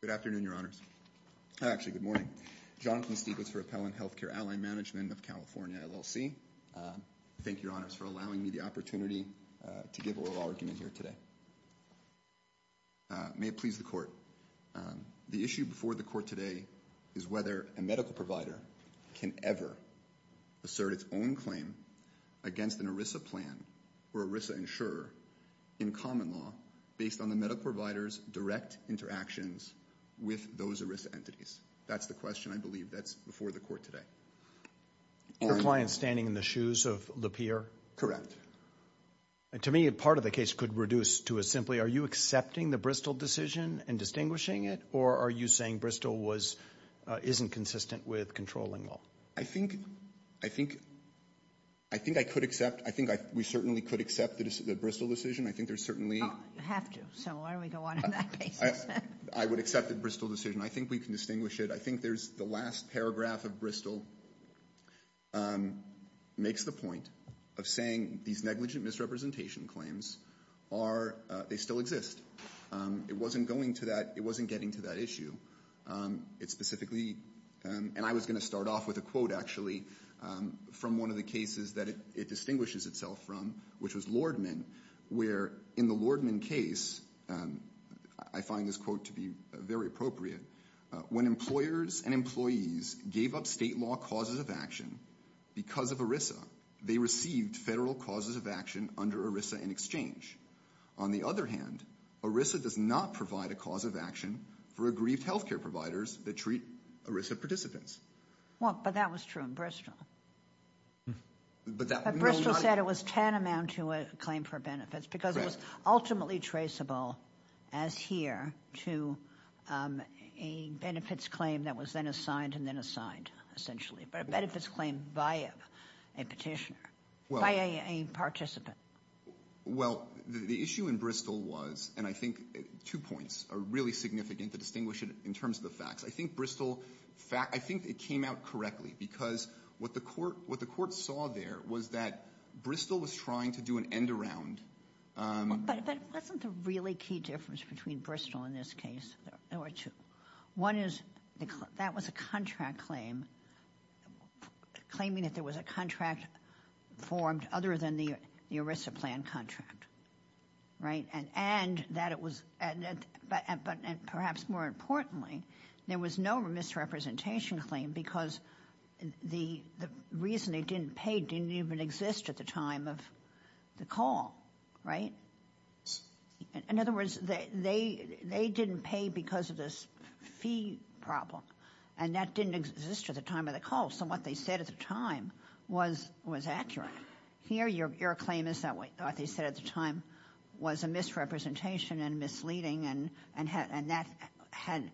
Good afternoon, your honors. Actually, good morning. Jonathan Stiglitz for Appellant Healthcare Ally Management of California, LLC. Thank you, your honors, for allowing me the opportunity to give oral argument here today. May it please the court. The issue before the court today is whether a medical provider can ever assert its own claim against an ERISA plan or ERISA insurer in common law based on the medical provider's direct interactions with those ERISA entities. That's the question, I believe. That's before the court today. Your client's standing in the shoes of Lapeer? Correct. To me, part of the case could reduce to a simply, are you accepting the Bristol decision and distinguishing it, or are you saying Bristol isn't consistent with controlling law? I think I could accept, I think we certainly could accept the Bristol decision. I think there's certainly... You have to, so why don't we go on in that case? I would accept the Bristol decision. I think we can distinguish it. I think there's the last paragraph of Bristol makes the point of saying these negligent misrepresentation claims are, they still exist. It wasn't going to that, it wasn't getting to that issue. It specifically, and I was going to start off with a quote, actually, from one of the cases that it distinguishes itself from, which was Lordman, where in the Lordman case, I find this quote to be very appropriate, when employers and employees gave up state law causes of action because of ERISA, they received federal causes of action under ERISA in exchange. On the other hand, ERISA does not provide a cause of action for aggrieved healthcare providers that treat ERISA participants. Well, but that was true in Bristol. But Bristol said it was tantamount to a claim for benefits because it was ultimately traceable, as here, to a benefits claim that was then assigned and then assigned, essentially, but a benefits claim by a petitioner, by a participant. Well, the issue in Bristol was, and I think two points are really significant to distinguish it in terms of the facts. I think it came out correctly because what the court saw there was that Bristol was trying to do an end-around. But wasn't the really key difference between Bristol in this case? There were two. One is that was a contract claim, claiming that there was a contract formed other than the ERISA plan contract, right? And that it was, but perhaps more importantly, there was no misrepresentation claim because the reason they didn't pay didn't even exist at the time of the call, right? In other words, they didn't pay because of this fee problem, and that didn't exist at the time of the call. So what they said at the time was accurate. Here, your claim is that what they said at the time was a misrepresentation and misleading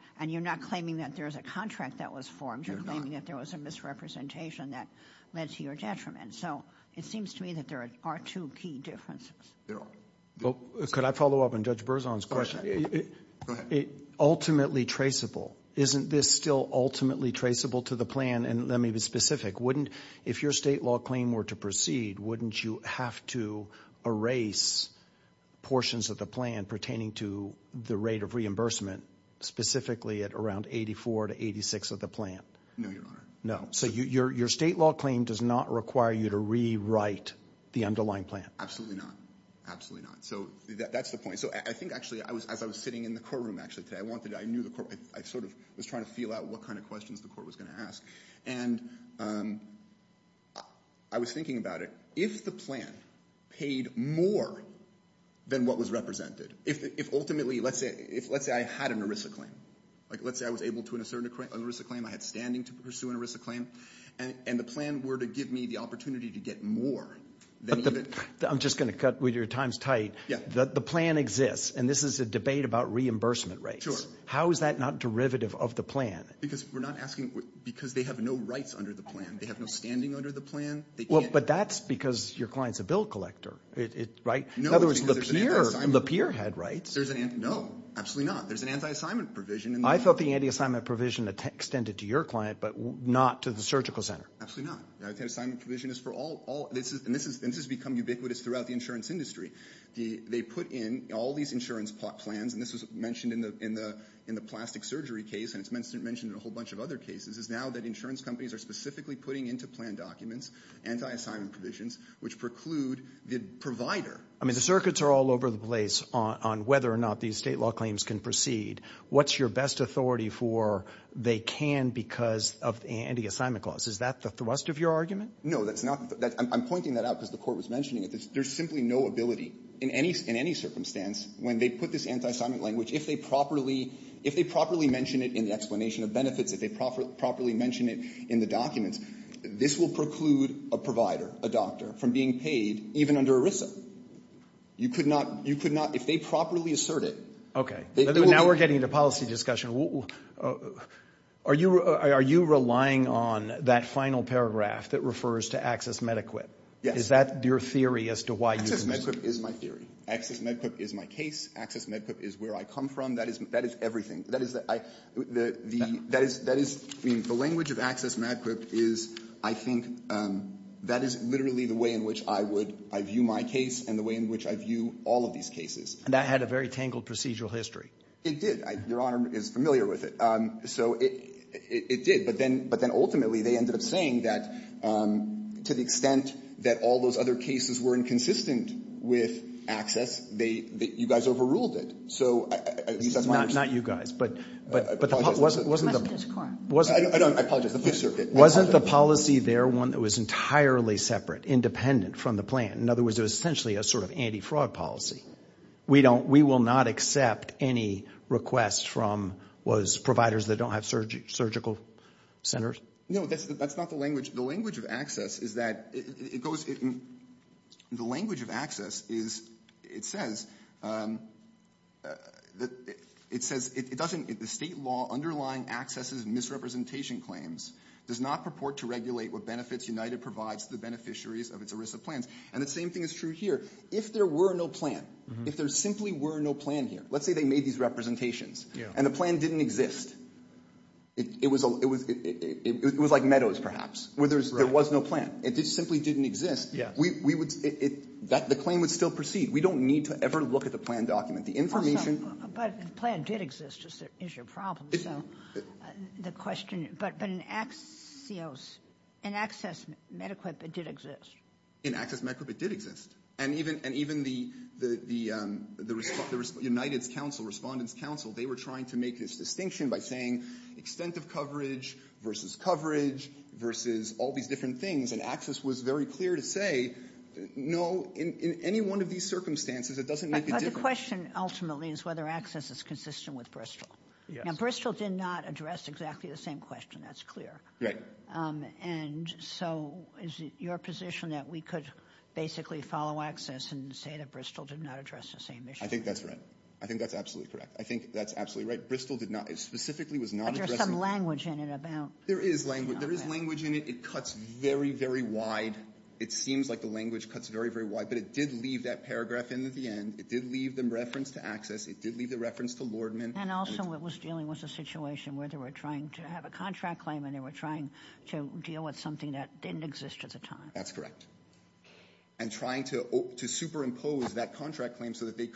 and you're not claiming that there's a contract that was formed. You're claiming that there was a misrepresentation that led to your detriment. So it seems to me that there are two key differences. There are. Well, could I follow up on Judge Berzon's question? Ultimately traceable. Isn't this still ultimately traceable to the plan? And let me be specific. If your state law claim were to proceed, wouldn't you have to erase portions of the plan pertaining to the rate of reimbursement, specifically at around 84 to 86 of the plan? No, Your Honor. No. So your state law claim does not require you to rewrite the underlying plan. Absolutely not. Absolutely not. So that's the point. So I think actually, as I was sitting in the courtroom actually today, I wanted, I knew the court, I sort of was trying to feel out what kind of questions the court was going to ask. And I was thinking about it, if the plan paid more than what was represented, if ultimately, let's say I had an ERISA claim, like let's say I was able to assert an ERISA claim, I had standing to pursue an ERISA claim, and the plan were to give me the opportunity to get more than even... I'm just going to cut with your times tight. The plan exists, and this is a debate about reimbursement rates. How is that not derivative of the plan? Because we're not asking, because they have no rights under the plan. They have no standing under the plan. They can't... Well, but that's because your client's a bill collector, right? In other words, the peer had rights. No, absolutely not. There's an anti-assignment provision. I felt the anti-assignment provision extended to your client, but not to the surgical center. Absolutely not. The anti-assignment provision is for all, and this has become ubiquitous throughout the insurance industry. They put in all these insurance plans, and this was mentioned in the plastic surgery case, and it's mentioned in a whole bunch of other cases, is now that insurance companies are specifically putting into plan documents anti-assignment provisions, which preclude the provider... I mean, the circuits are all over the place on whether or not these state law claims can proceed. What's your best authority for they can because of the anti-assignment clause? Is that the thrust of your argument? No, that's not... I'm pointing that out because the court was mentioning it. There's simply no ability in any circumstance when they put this anti-assignment language, if they properly mention it in the explanation of benefits, if they properly mention it in the documents, this will preclude a provider, a doctor, from being paid even under ERISA. You could not... If they properly assert it... Okay. Now we're getting into policy discussion. Are you relying on that final paragraph that refers to access med-equip? Is that your theory as to why you... Access med-equip is my theory. Access med-equip is my case. Access med-equip is where I come from. That is everything. That is... I mean, the language of access med-equip is, I think, that is literally the way in which I would... I view my case and the way in which I view all of these cases. And that had a very tangled procedural history. It did. Your Honor is familiar with it. So it did, but then ultimately they ended up saying that to the extent that all those other cases were inconsistent with access, that you guys overruled it. So at least that's my understanding. Not you guys, but... I apologize. Wasn't the policy there one that was entirely separate, independent from the plan? In other words, it was essentially a sort of anti-fraud policy. We will not accept any requests from providers that don't have surgical centers? No, that's not the language. The language of access is that it goes... The language of access is, it says, it doesn't... The state law underlying accesses misrepresentation claims does not purport to regulate what benefits United provides to the beneficiaries of its ERISA plans. And the same thing is true here. If there were no plan, if there simply were no plan here, let's say they didn't exist. It was like meadows, perhaps, where there was no plan. If it simply didn't exist, the claim would still proceed. We don't need to ever look at the plan document. The information... But the plan did exist is your problem. So the question... But in Access MediQuip, it did exist. In Access MediQuip, it did exist. And even the United's counsel, Respondent's counsel, they were trying to make this distinction by saying extent of coverage versus coverage versus all these different things. And Access was very clear to say, no, in any one of these circumstances, it doesn't make a difference. But the question ultimately is whether access is consistent with Bristol. Yes. And Bristol did not address exactly the same question. That's clear. Right. And so is it your position that we could basically follow Access and say that Bristol did not address the same issue? I think that's right. I think that's absolutely correct. I think that's absolutely right. Bristol did not... It specifically was not addressing... But there's some language in it about... There is language. There is language in it. It cuts very, very wide. It seems like the language cuts very, very wide. But it did leave that paragraph in at the end. It did leave the reference to Access. It did leave the reference to Lordman. And also it was dealing with a situation where they were trying to have a contract claim and they were trying to deal with something that didn't exist at the time. That's correct. And trying to superimpose that contract claim so that they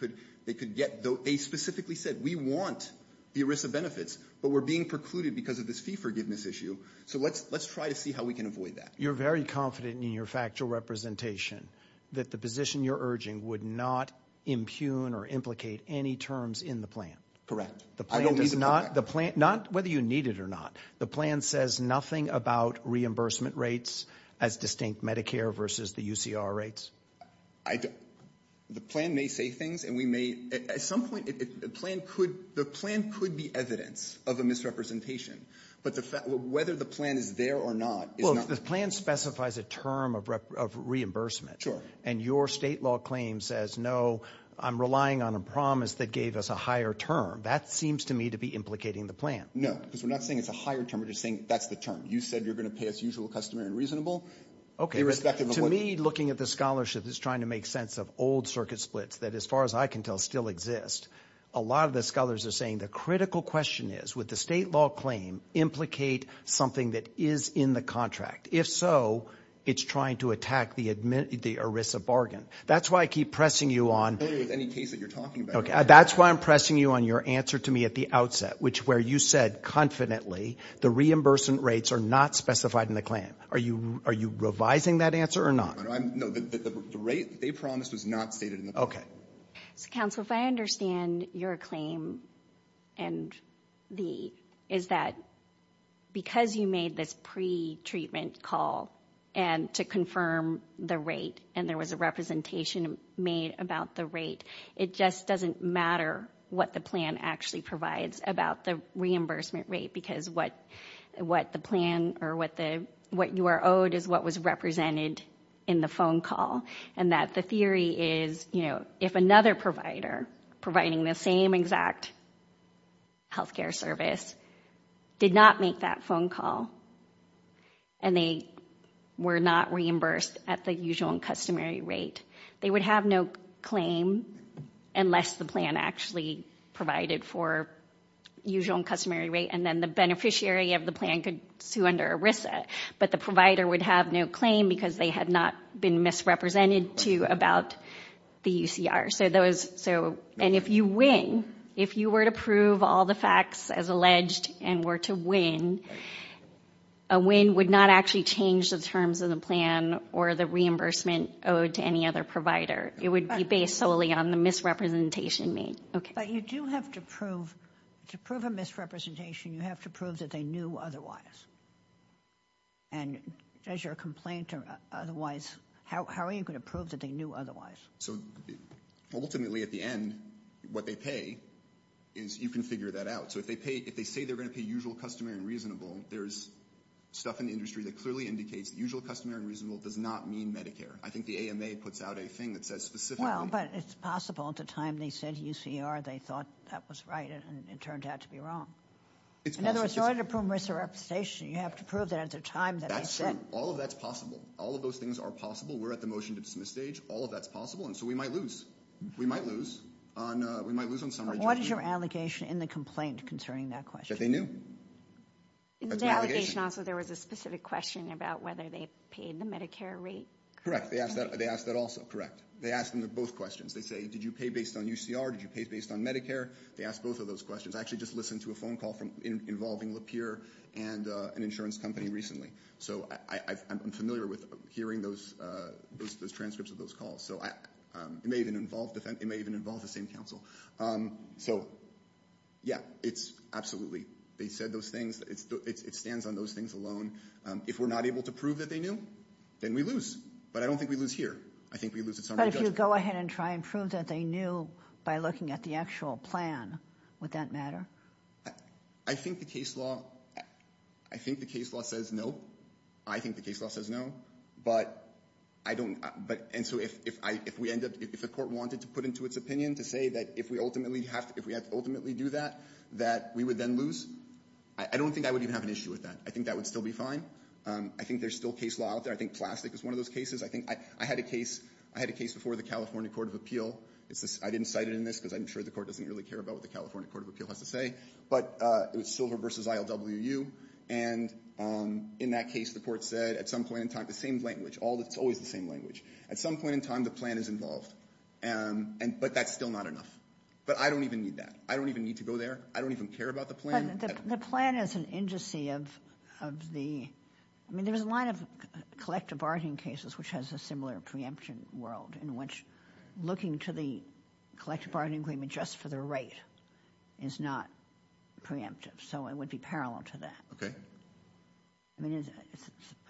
could get... They specifically said, we want the ERISA benefits, but we're being precluded because of this fee forgiveness issue. So let's try to see how we can avoid that. You're very confident in your factual representation that the position you're urging would not impugn or implicate any terms in the plan. Correct. I don't need the contract. Not whether you need it or not. The plan says nothing about reimbursement rates as distinct Medicare versus the UCR rates. The plan may say things and we may... At some point, the plan could be evidence of a misrepresentation. But whether the plan is there or not is not... Well, the plan specifies a term of reimbursement. Sure. And your state law claim says, no, I'm relying on a promise that gave us a higher term. That seems to me to be implicating the plan. No, because we're not saying it's a higher term. We're just saying that's the term. You said you're going to pay as usual, customary, and reasonable, irrespective of what... To me, looking at the scholarship is trying to make sense of old circuit splits that, as far as I can tell, still exist. A lot of the scholars are saying the critical question is, would the state law claim implicate something that is in the contract? If so, it's trying to attack the ERISA bargain. That's why I keep pressing you on... I don't agree with any case that you're talking about. That's why I'm pressing you on your answer to me at the outset, where you said confidently the reimbursement rates are not specified in the claim. Are you revising that answer or not? No, the rate they promised was not stated in the plan. Okay. Counsel, if I understand your claim, is that because you made this pre-treatment call and to confirm the rate, and there was a representation made about the rate, it just doesn't matter what the plan actually provides about the reimbursement rate, because what the plan or what you are owed is what was represented in the phone call, and that the theory is, you know, if another provider providing the same exact health care service did not make that phone call, and they were not reimbursed at the usual and customary rate, they would have no claim unless the plan actually provided for usual and customary rate, then the beneficiary of the plan could sue under ERISA, but the provider would have no claim because they had not been misrepresented to about the UCR. And if you win, if you were to prove all the facts as alleged and were to win, a win would not actually change the terms of the plan or the reimbursement owed to any other provider. It would be based solely on the misrepresentation made. But you do have to prove, to prove a misrepresentation, you have to prove that they knew otherwise. And does your complaint or otherwise, how are you going to prove that they knew otherwise? So ultimately at the end, what they pay is, you can figure that out. So if they pay, if they say they're going to pay usual, customary, and reasonable, there's stuff in the industry that clearly indicates the usual, customary, and reasonable does not mean Medicare. I think the AMA puts out a thing that says specifically... Well, but it's possible at the time they said UCR, they thought that was right, and it turned out to be wrong. In other words, in order to prove misrepresentation, you have to prove that at the time that they said... That's true. All of that's possible. All of those things are possible. We're at the motion to dismiss stage. All of that's possible. And so we might lose. We might lose on, we might lose on summary... What is your allegation in the complaint concerning that question? That they knew. In the allegation also, there was a specific question about whether they paid the Medicare rate. Correct. They asked that, they asked that also. Correct. They asked them both questions. They say, did you pay based on UCR? Did you pay based on Medicare? They asked both of those questions. I actually just listened to a phone call involving Lapeer and an insurance company recently. So I'm familiar with hearing those transcripts of those calls. So it may even involve the same counsel. So yeah, it's absolutely, they said those things. It stands on those things alone. If we're not able to prove that they knew, then we lose. But I don't think we lose here. I think we lose at summary judgment. But if you go ahead and try and prove that they knew by looking at the actual plan, would that matter? I think the case law, I think the case law says no. I think the case law says no, but I don't, but and so if I, if we end up, if the court wanted to put into its opinion to say that if we ultimately have to, if we had to ultimately do that, that we would then lose. I don't think I would even have an issue with that. I think that would still be fine. I think there's still case law out there. I think plastic is one of those cases. I had a case before the California Court of Appeal. I didn't cite it in this because I'm sure the court doesn't really care about what the California Court of Appeal has to say. But it was Silver v. ILWU. And in that case, the court said at some point in time, the same language, it's always the same language. At some point in time, the plan is involved. But that's still not enough. But I don't even need that. I don't even need to go there. I don't even care about the plan. But the plan is an indice of the, I mean, there's a line of collective bargaining cases, which has a similar preemption world in which looking to the collective bargaining agreement just for the rate is not preemptive. So it would be parallel to that.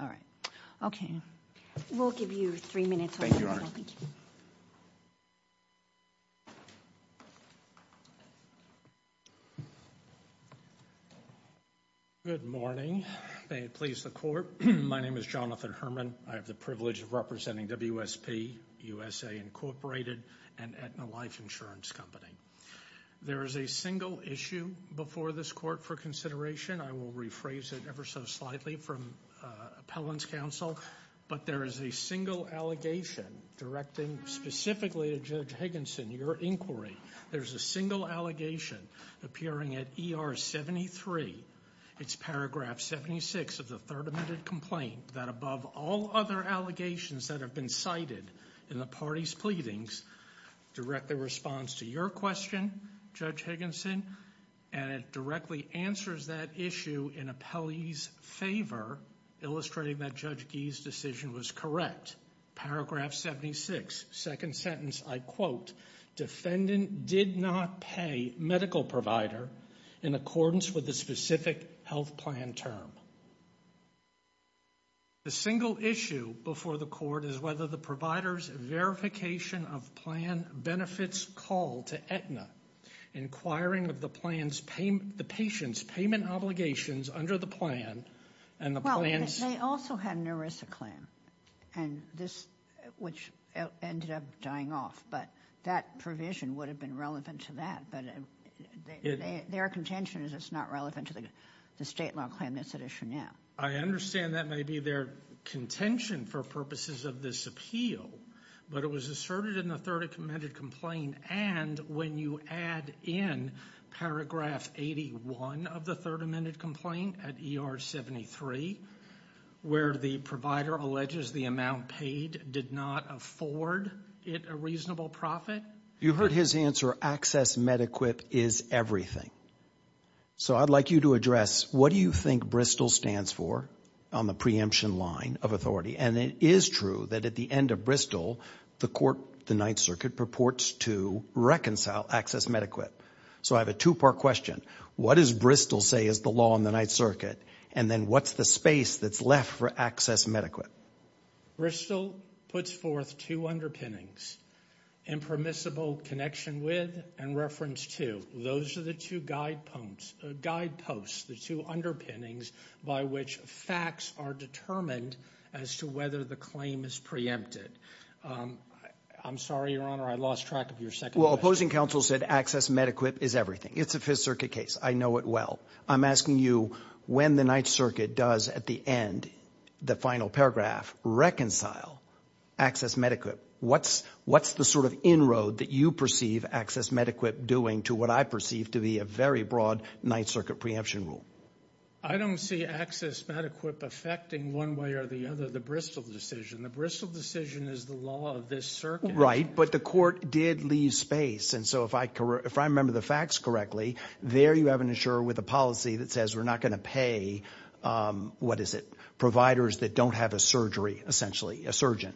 All right. Okay. We'll give you three minutes. Good morning. May it please the court. My name is Jonathan Herman. I have the privilege of representing WSP, USA Incorporated, and Aetna Life Insurance Company. There is a single issue before this court for consideration. I will rephrase it ever so slightly from appellant's counsel. But there is a single allegation directing specifically to Judge Higginson, your inquiry. There's a single allegation appearing at ER 73. It's paragraph 76 of the third amended complaint, that above all other allegations that have been cited in the party's pleadings, directly responds to your question, Judge Higginson, and it directly answers that issue in appellee's favor, illustrating that Judge Gee's decision was correct. Paragraph 76, second sentence, I quote, defendant did not pay medical provider in accordance with the specific health plan term. The single issue before the court is whether the provider's verification of plan benefits call to Aetna, inquiring of the patient's payment obligations under the plan, and the plan's... They also had an ERISA claim, which ended up dying off. But that provision would have been relevant to that. But their contention is it's not relevant to the state law claim that's at issue now. I understand that may be their contention for purposes of this appeal, but it was asserted in the third amended complaint. And when you add in paragraph 81 of the third amended complaint at ER 73, where the provider alleges the amount paid did not afford it a reasonable profit. You heard his answer, access mediquip is everything. So I'd like you to address what do you think Bristol stands for on the preemption line of authority? And it is true that at the end of Bristol, the court, the Ninth Circuit purports to reconcile access mediquip. So I have a two part question. What does Bristol say is the law in the Ninth Circuit? And then what's the space that's left for access mediquip? Bristol puts forth two underpinnings, impermissible connection with and reference to. Those are the two guideposts, the two underpinnings by which facts are determined as to whether the claim is preempted. I'm sorry, Your Honor, I lost track of your second question. Well, opposing counsel said access mediquip is everything. It's a Fifth Circuit case. I know it well. I'm asking you when the Ninth Circuit does at the end, the final paragraph, reconcile access mediquip. What's the sort of inroad that you perceive access mediquip doing to what I perceive to be a very broad Ninth Circuit preemption rule? I don't see access mediquip affecting one way or the other the Bristol decision. The Bristol decision is the law of this circuit. But the court did leave space. And so if I remember the facts correctly, there you have an insurer with a policy that says we're not going to pay, what is it, providers that don't have a surgery, essentially, a surgeon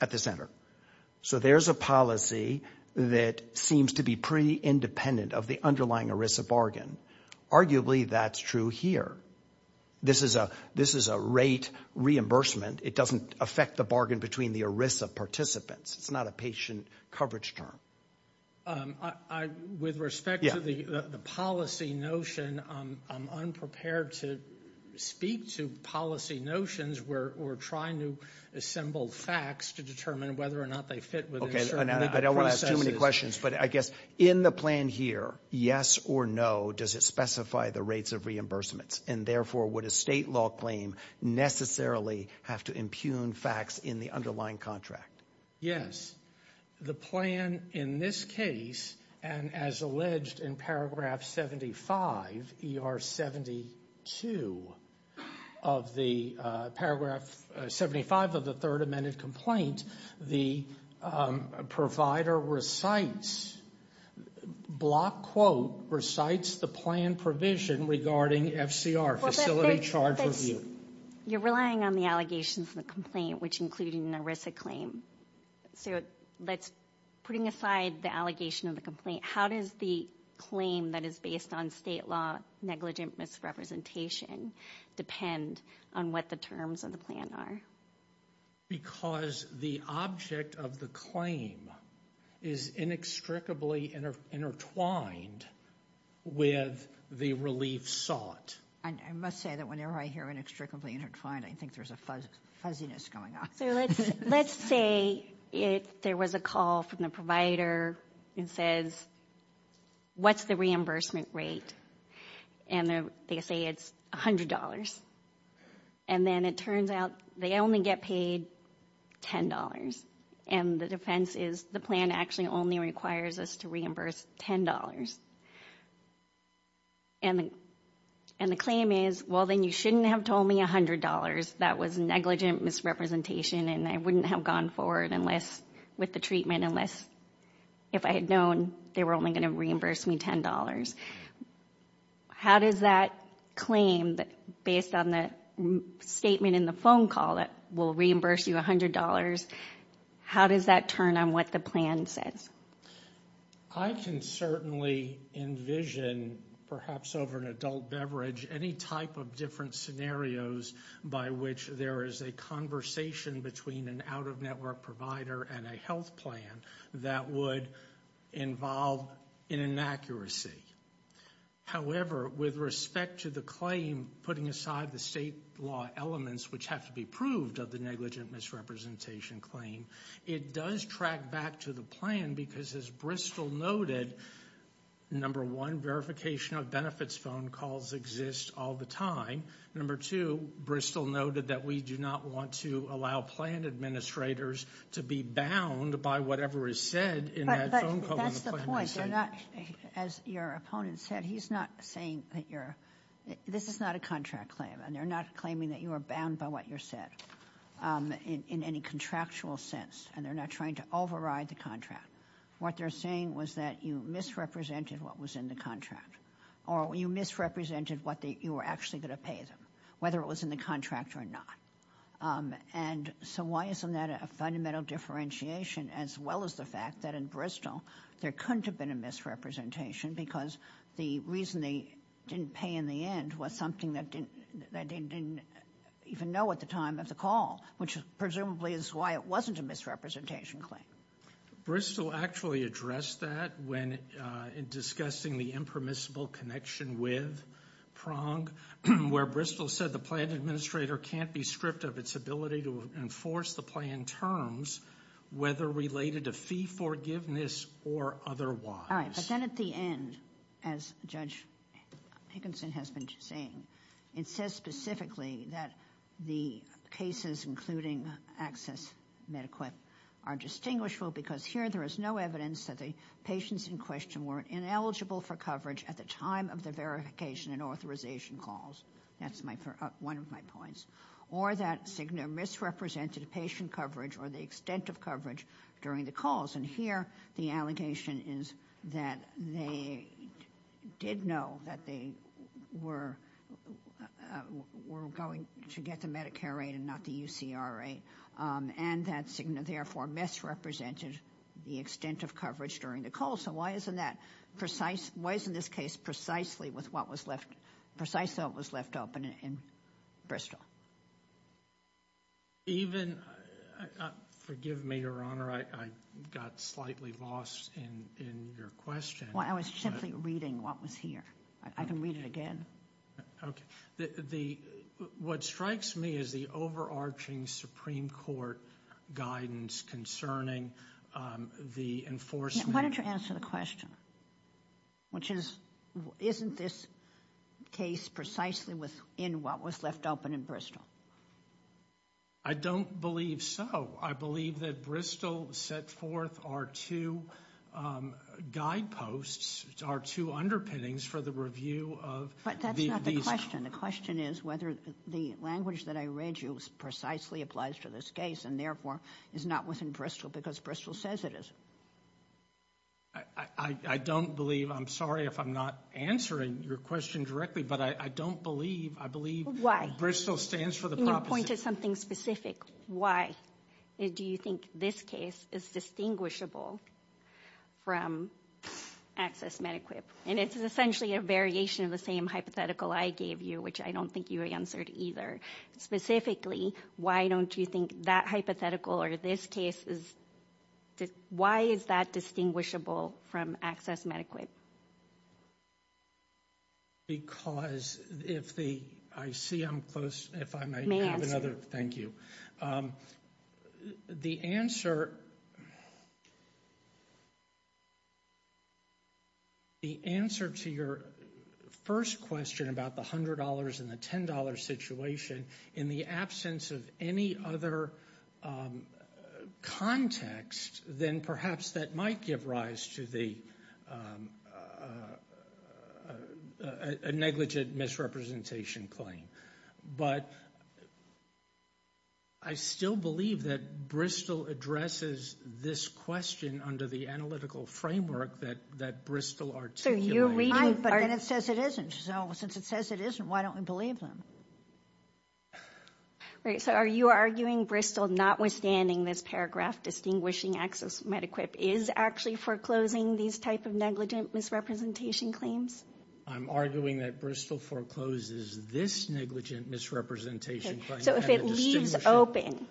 at the center. So there's a policy that seems to be pretty independent of the underlying ERISA bargain. Arguably, that's true here. This is a rate reimbursement. It doesn't affect the bargain between the ERISA participants. It's not a patient coverage term. With respect to the policy notion, I'm unprepared to speak to policy notions. We're trying to assemble facts to determine whether or not they fit within certain processes. I don't want to ask too many questions, but I guess in the plan here, yes or no, does it specify the rates of reimbursements? And therefore, would a state law claim necessarily have to impugn facts in the underlying contract? Yes. The plan in this case, and as alleged in paragraph 75, ER 72 of the paragraph 75 of the third amended complaint, the provider recites, block quote, recites the plan provision regarding FCR, facility charge review. You're relying on the allegations in the complaint, which include an ERISA claim. So putting aside the allegation of the complaint, how does the claim that is based on state law negligent misrepresentation depend on what the terms of the plan are? Because the object of the claim is inextricably intertwined with the relief sought. And I must say that whenever I hear inextricably intertwined, I think there's a fuzziness going on. Let's say there was a call from the provider and says, what's the reimbursement rate? And they say it's $100. And then it turns out they only get paid $10. And the defense is the plan actually only requires us to reimburse $10. And the claim is, well, then you shouldn't have told me $100. That was negligent misrepresentation and I wouldn't have gone forward with the treatment unless if I had known they were only going to reimburse me $10. How does that claim, based on the statement in the phone call that we'll reimburse you $100, how does that turn on what the plan says? I can certainly envision, perhaps over an adult beverage, any type of different scenarios by which there is a conversation between an out-of-network provider and a health plan that would involve an inaccuracy. However, with respect to the claim, putting aside the state law elements which have to be proved of the negligent misrepresentation claim, it does track back to the plan because as Bristol noted, number one, verification of benefits phone calls exist all the time. Number two, Bristol noted that we do not want to allow plan administrators to be bound by whatever is said in that phone call. But that's the point. They're not, as your opponent said, he's not saying that you're, this is not a contract claim and they're not claiming that you are bound by what you said in any contractual sense and they're not trying to override the contract. What they're saying was that you misrepresented what was in the contract or you misrepresented what you were actually going to pay them, whether it was in the contract or not. And so why isn't that a fundamental differentiation as well as the fact that in Bristol there couldn't have been a misrepresentation because the reason they didn't pay in the end was something that they didn't even know at the time of the call, which presumably is why it wasn't a misrepresentation claim. Bristol actually addressed that when discussing the impermissible connection with Prong, where Bristol said the plan administrator can't be stripped of its ability to enforce the plan terms, whether related to fee forgiveness or otherwise. All right, but then at the end, as Judge Hankinson has been saying, it says specifically that the cases, including Access MediQuip, are distinguishable because here there is no evidence that the patients in question were ineligible for coverage at the time of the verification and authorization calls. That's one of my points. Or that Cigna misrepresented patient coverage or the extent of coverage during the calls. And here the allegation is that they did know that they were going to get the Medicare rate and not the UCR rate. And that Cigna therefore misrepresented the extent of coverage during the call. So why isn't that precise? Why isn't this case precisely with what was left, precisely what was left open in Bristol? Even, forgive me, Your Honor, I got slightly lost in your question. Well, I was simply reading what was here. I can read it again. Okay. What strikes me is the overarching Supreme Court guidance concerning the enforcement. Why don't you answer the question? Which is, isn't this case precisely within what was left open in Bristol? I don't believe so. I believe that Bristol set forth our two guideposts, our two underpinnings for the review of these. But that's not the question. The question is whether the language that I read you precisely applies to this case and therefore is not within Bristol because Bristol says it is. I don't believe, I'm sorry if I'm not answering your question directly, but I don't believe, I believe Bristol stands for the proposition. Your point is something specific. Why do you think this case is distinguishable from access MediQIP? And it's essentially a variation of the same hypothetical I gave you, which I don't think you answered either. Specifically, why don't you think that hypothetical or this case is, why is that distinguishable from access MediQIP? Because if the, I see I'm close, if I may have another, thank you. The answer, the answer to your first question about the $100 and the $10 situation in the absence of any other context, then perhaps that might give rise to the, a negligent misrepresentation claim. But I still believe that Bristol addresses this question under the analytical framework that Bristol articulated. But then it says it isn't. So since it says it isn't, why don't we believe them? Right. So are you arguing Bristol, notwithstanding this paragraph, distinguishing access MediQIP is actually foreclosing these type of negligent misrepresentation claims? I'm arguing that Bristol forecloses this negligent misrepresentation claim. So if it leaves open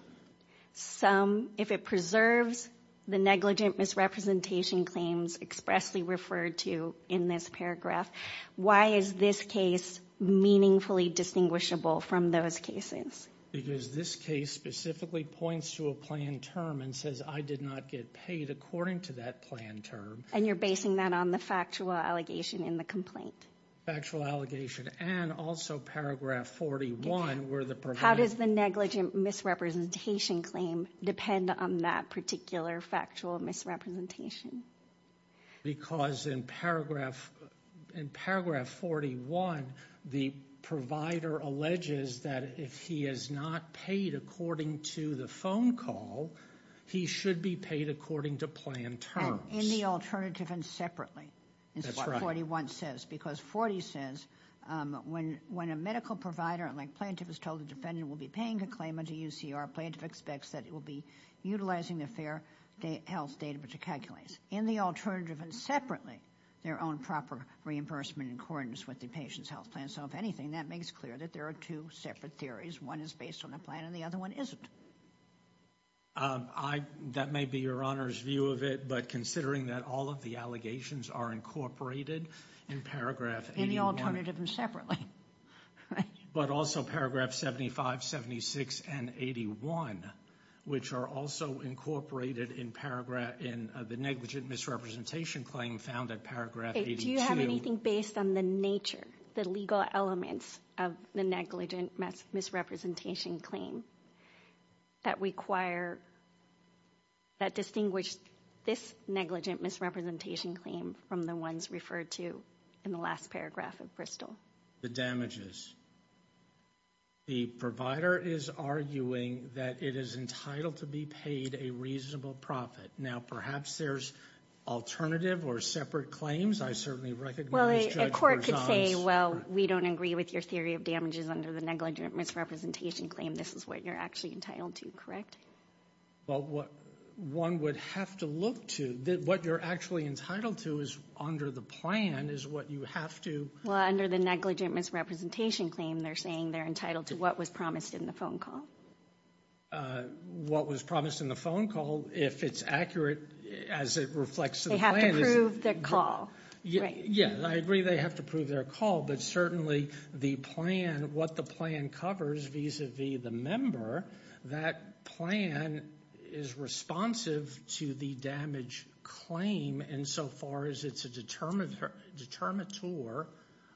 some, if it preserves the negligent misrepresentation claims expressly referred to in this paragraph, why is this case meaningfully distinguishable from those cases? Because this case specifically points to a plan term and says, I did not get paid according to that plan term. And you're basing that on the factual allegation in the complaint. Factual allegation. And also paragraph 41, where the provider... How does the negligent misrepresentation claim depend on that particular factual misrepresentation? Because in paragraph 41, the provider alleges that if he is not paid according to the phone call, he should be paid according to plan terms. In the alternative and separately. That's what 41 says. Because 40 says, when a medical provider, like plaintiff is told the defendant will be paying a claim into UCR, plaintiff expects that it will be utilizing the fair health data which it calculates. In the alternative and separately, their own proper reimbursement in accordance with the patient's health plan. So if anything, that makes clear that there are two separate theories. One is based on a plan and the other one isn't. That may be Your Honor's view of it, but considering that all of the allegations are incorporated in paragraph 81... In the alternative and separately. But also paragraph 75, 76, and 81, which are also incorporated in the negligent misrepresentation claim found at paragraph 82... Do you have anything based on the nature, the legal elements of the negligent misrepresentation claim? That require... That distinguish this negligent misrepresentation claim from the ones referred to in the last paragraph of Bristol? The damages. The provider is arguing that it is entitled to be paid a reasonable profit. Now, perhaps there's alternative or separate claims. I certainly recognize Judge Berzon's... Well, a court could say, well, we don't agree with your theory of damages under the negligent misrepresentation claim. This is what you're actually entitled to, correct? Well, what one would have to look to, what you're actually entitled to is under the plan is what you have to... Well, under the negligent misrepresentation claim, they're saying they're entitled to what was promised in the phone call. What was promised in the phone call, if it's accurate as it reflects to the plan... They have to prove their call, right? Yeah, I agree they have to prove their call, but certainly the plan, what the plan covers vis-a-vis the member, that plan is responsive to the damage claim insofar as it's a determinator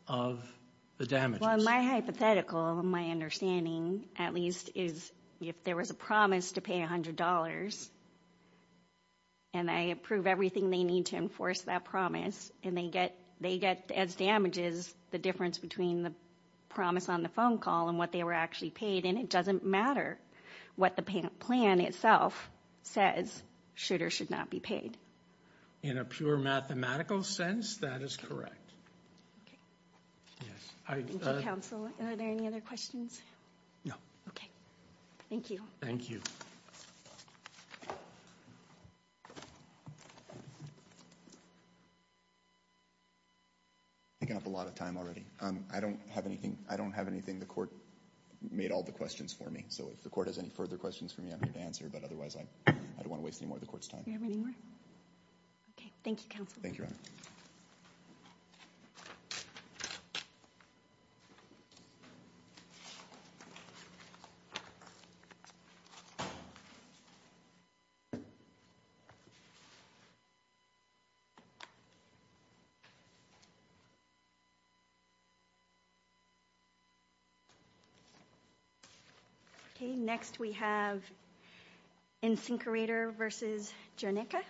of the damages. Well, my hypothetical, my understanding, at least, is if there was a promise to pay $100 and they approve everything they need to enforce that promise and they get, as damages, the difference between the promise on the phone call and what they were actually paid. And it doesn't matter what the plan itself says, should or should not be paid. In a pure mathematical sense, that is correct. Okay. Yes, I... Thank you, counsel. Are there any other questions? No. Okay. Thank you. Thank you. I'm picking up a lot of time already. I don't have anything. I don't have anything. The court made all the questions for me. So if the court has any further questions for me, I'm here to answer. But otherwise, I don't want to waste any more of the court's time. Do you have any more? Okay. Thank you, counsel. Thank you, Your Honor. Okay. Next, we have Insinkerator v. Jernicka.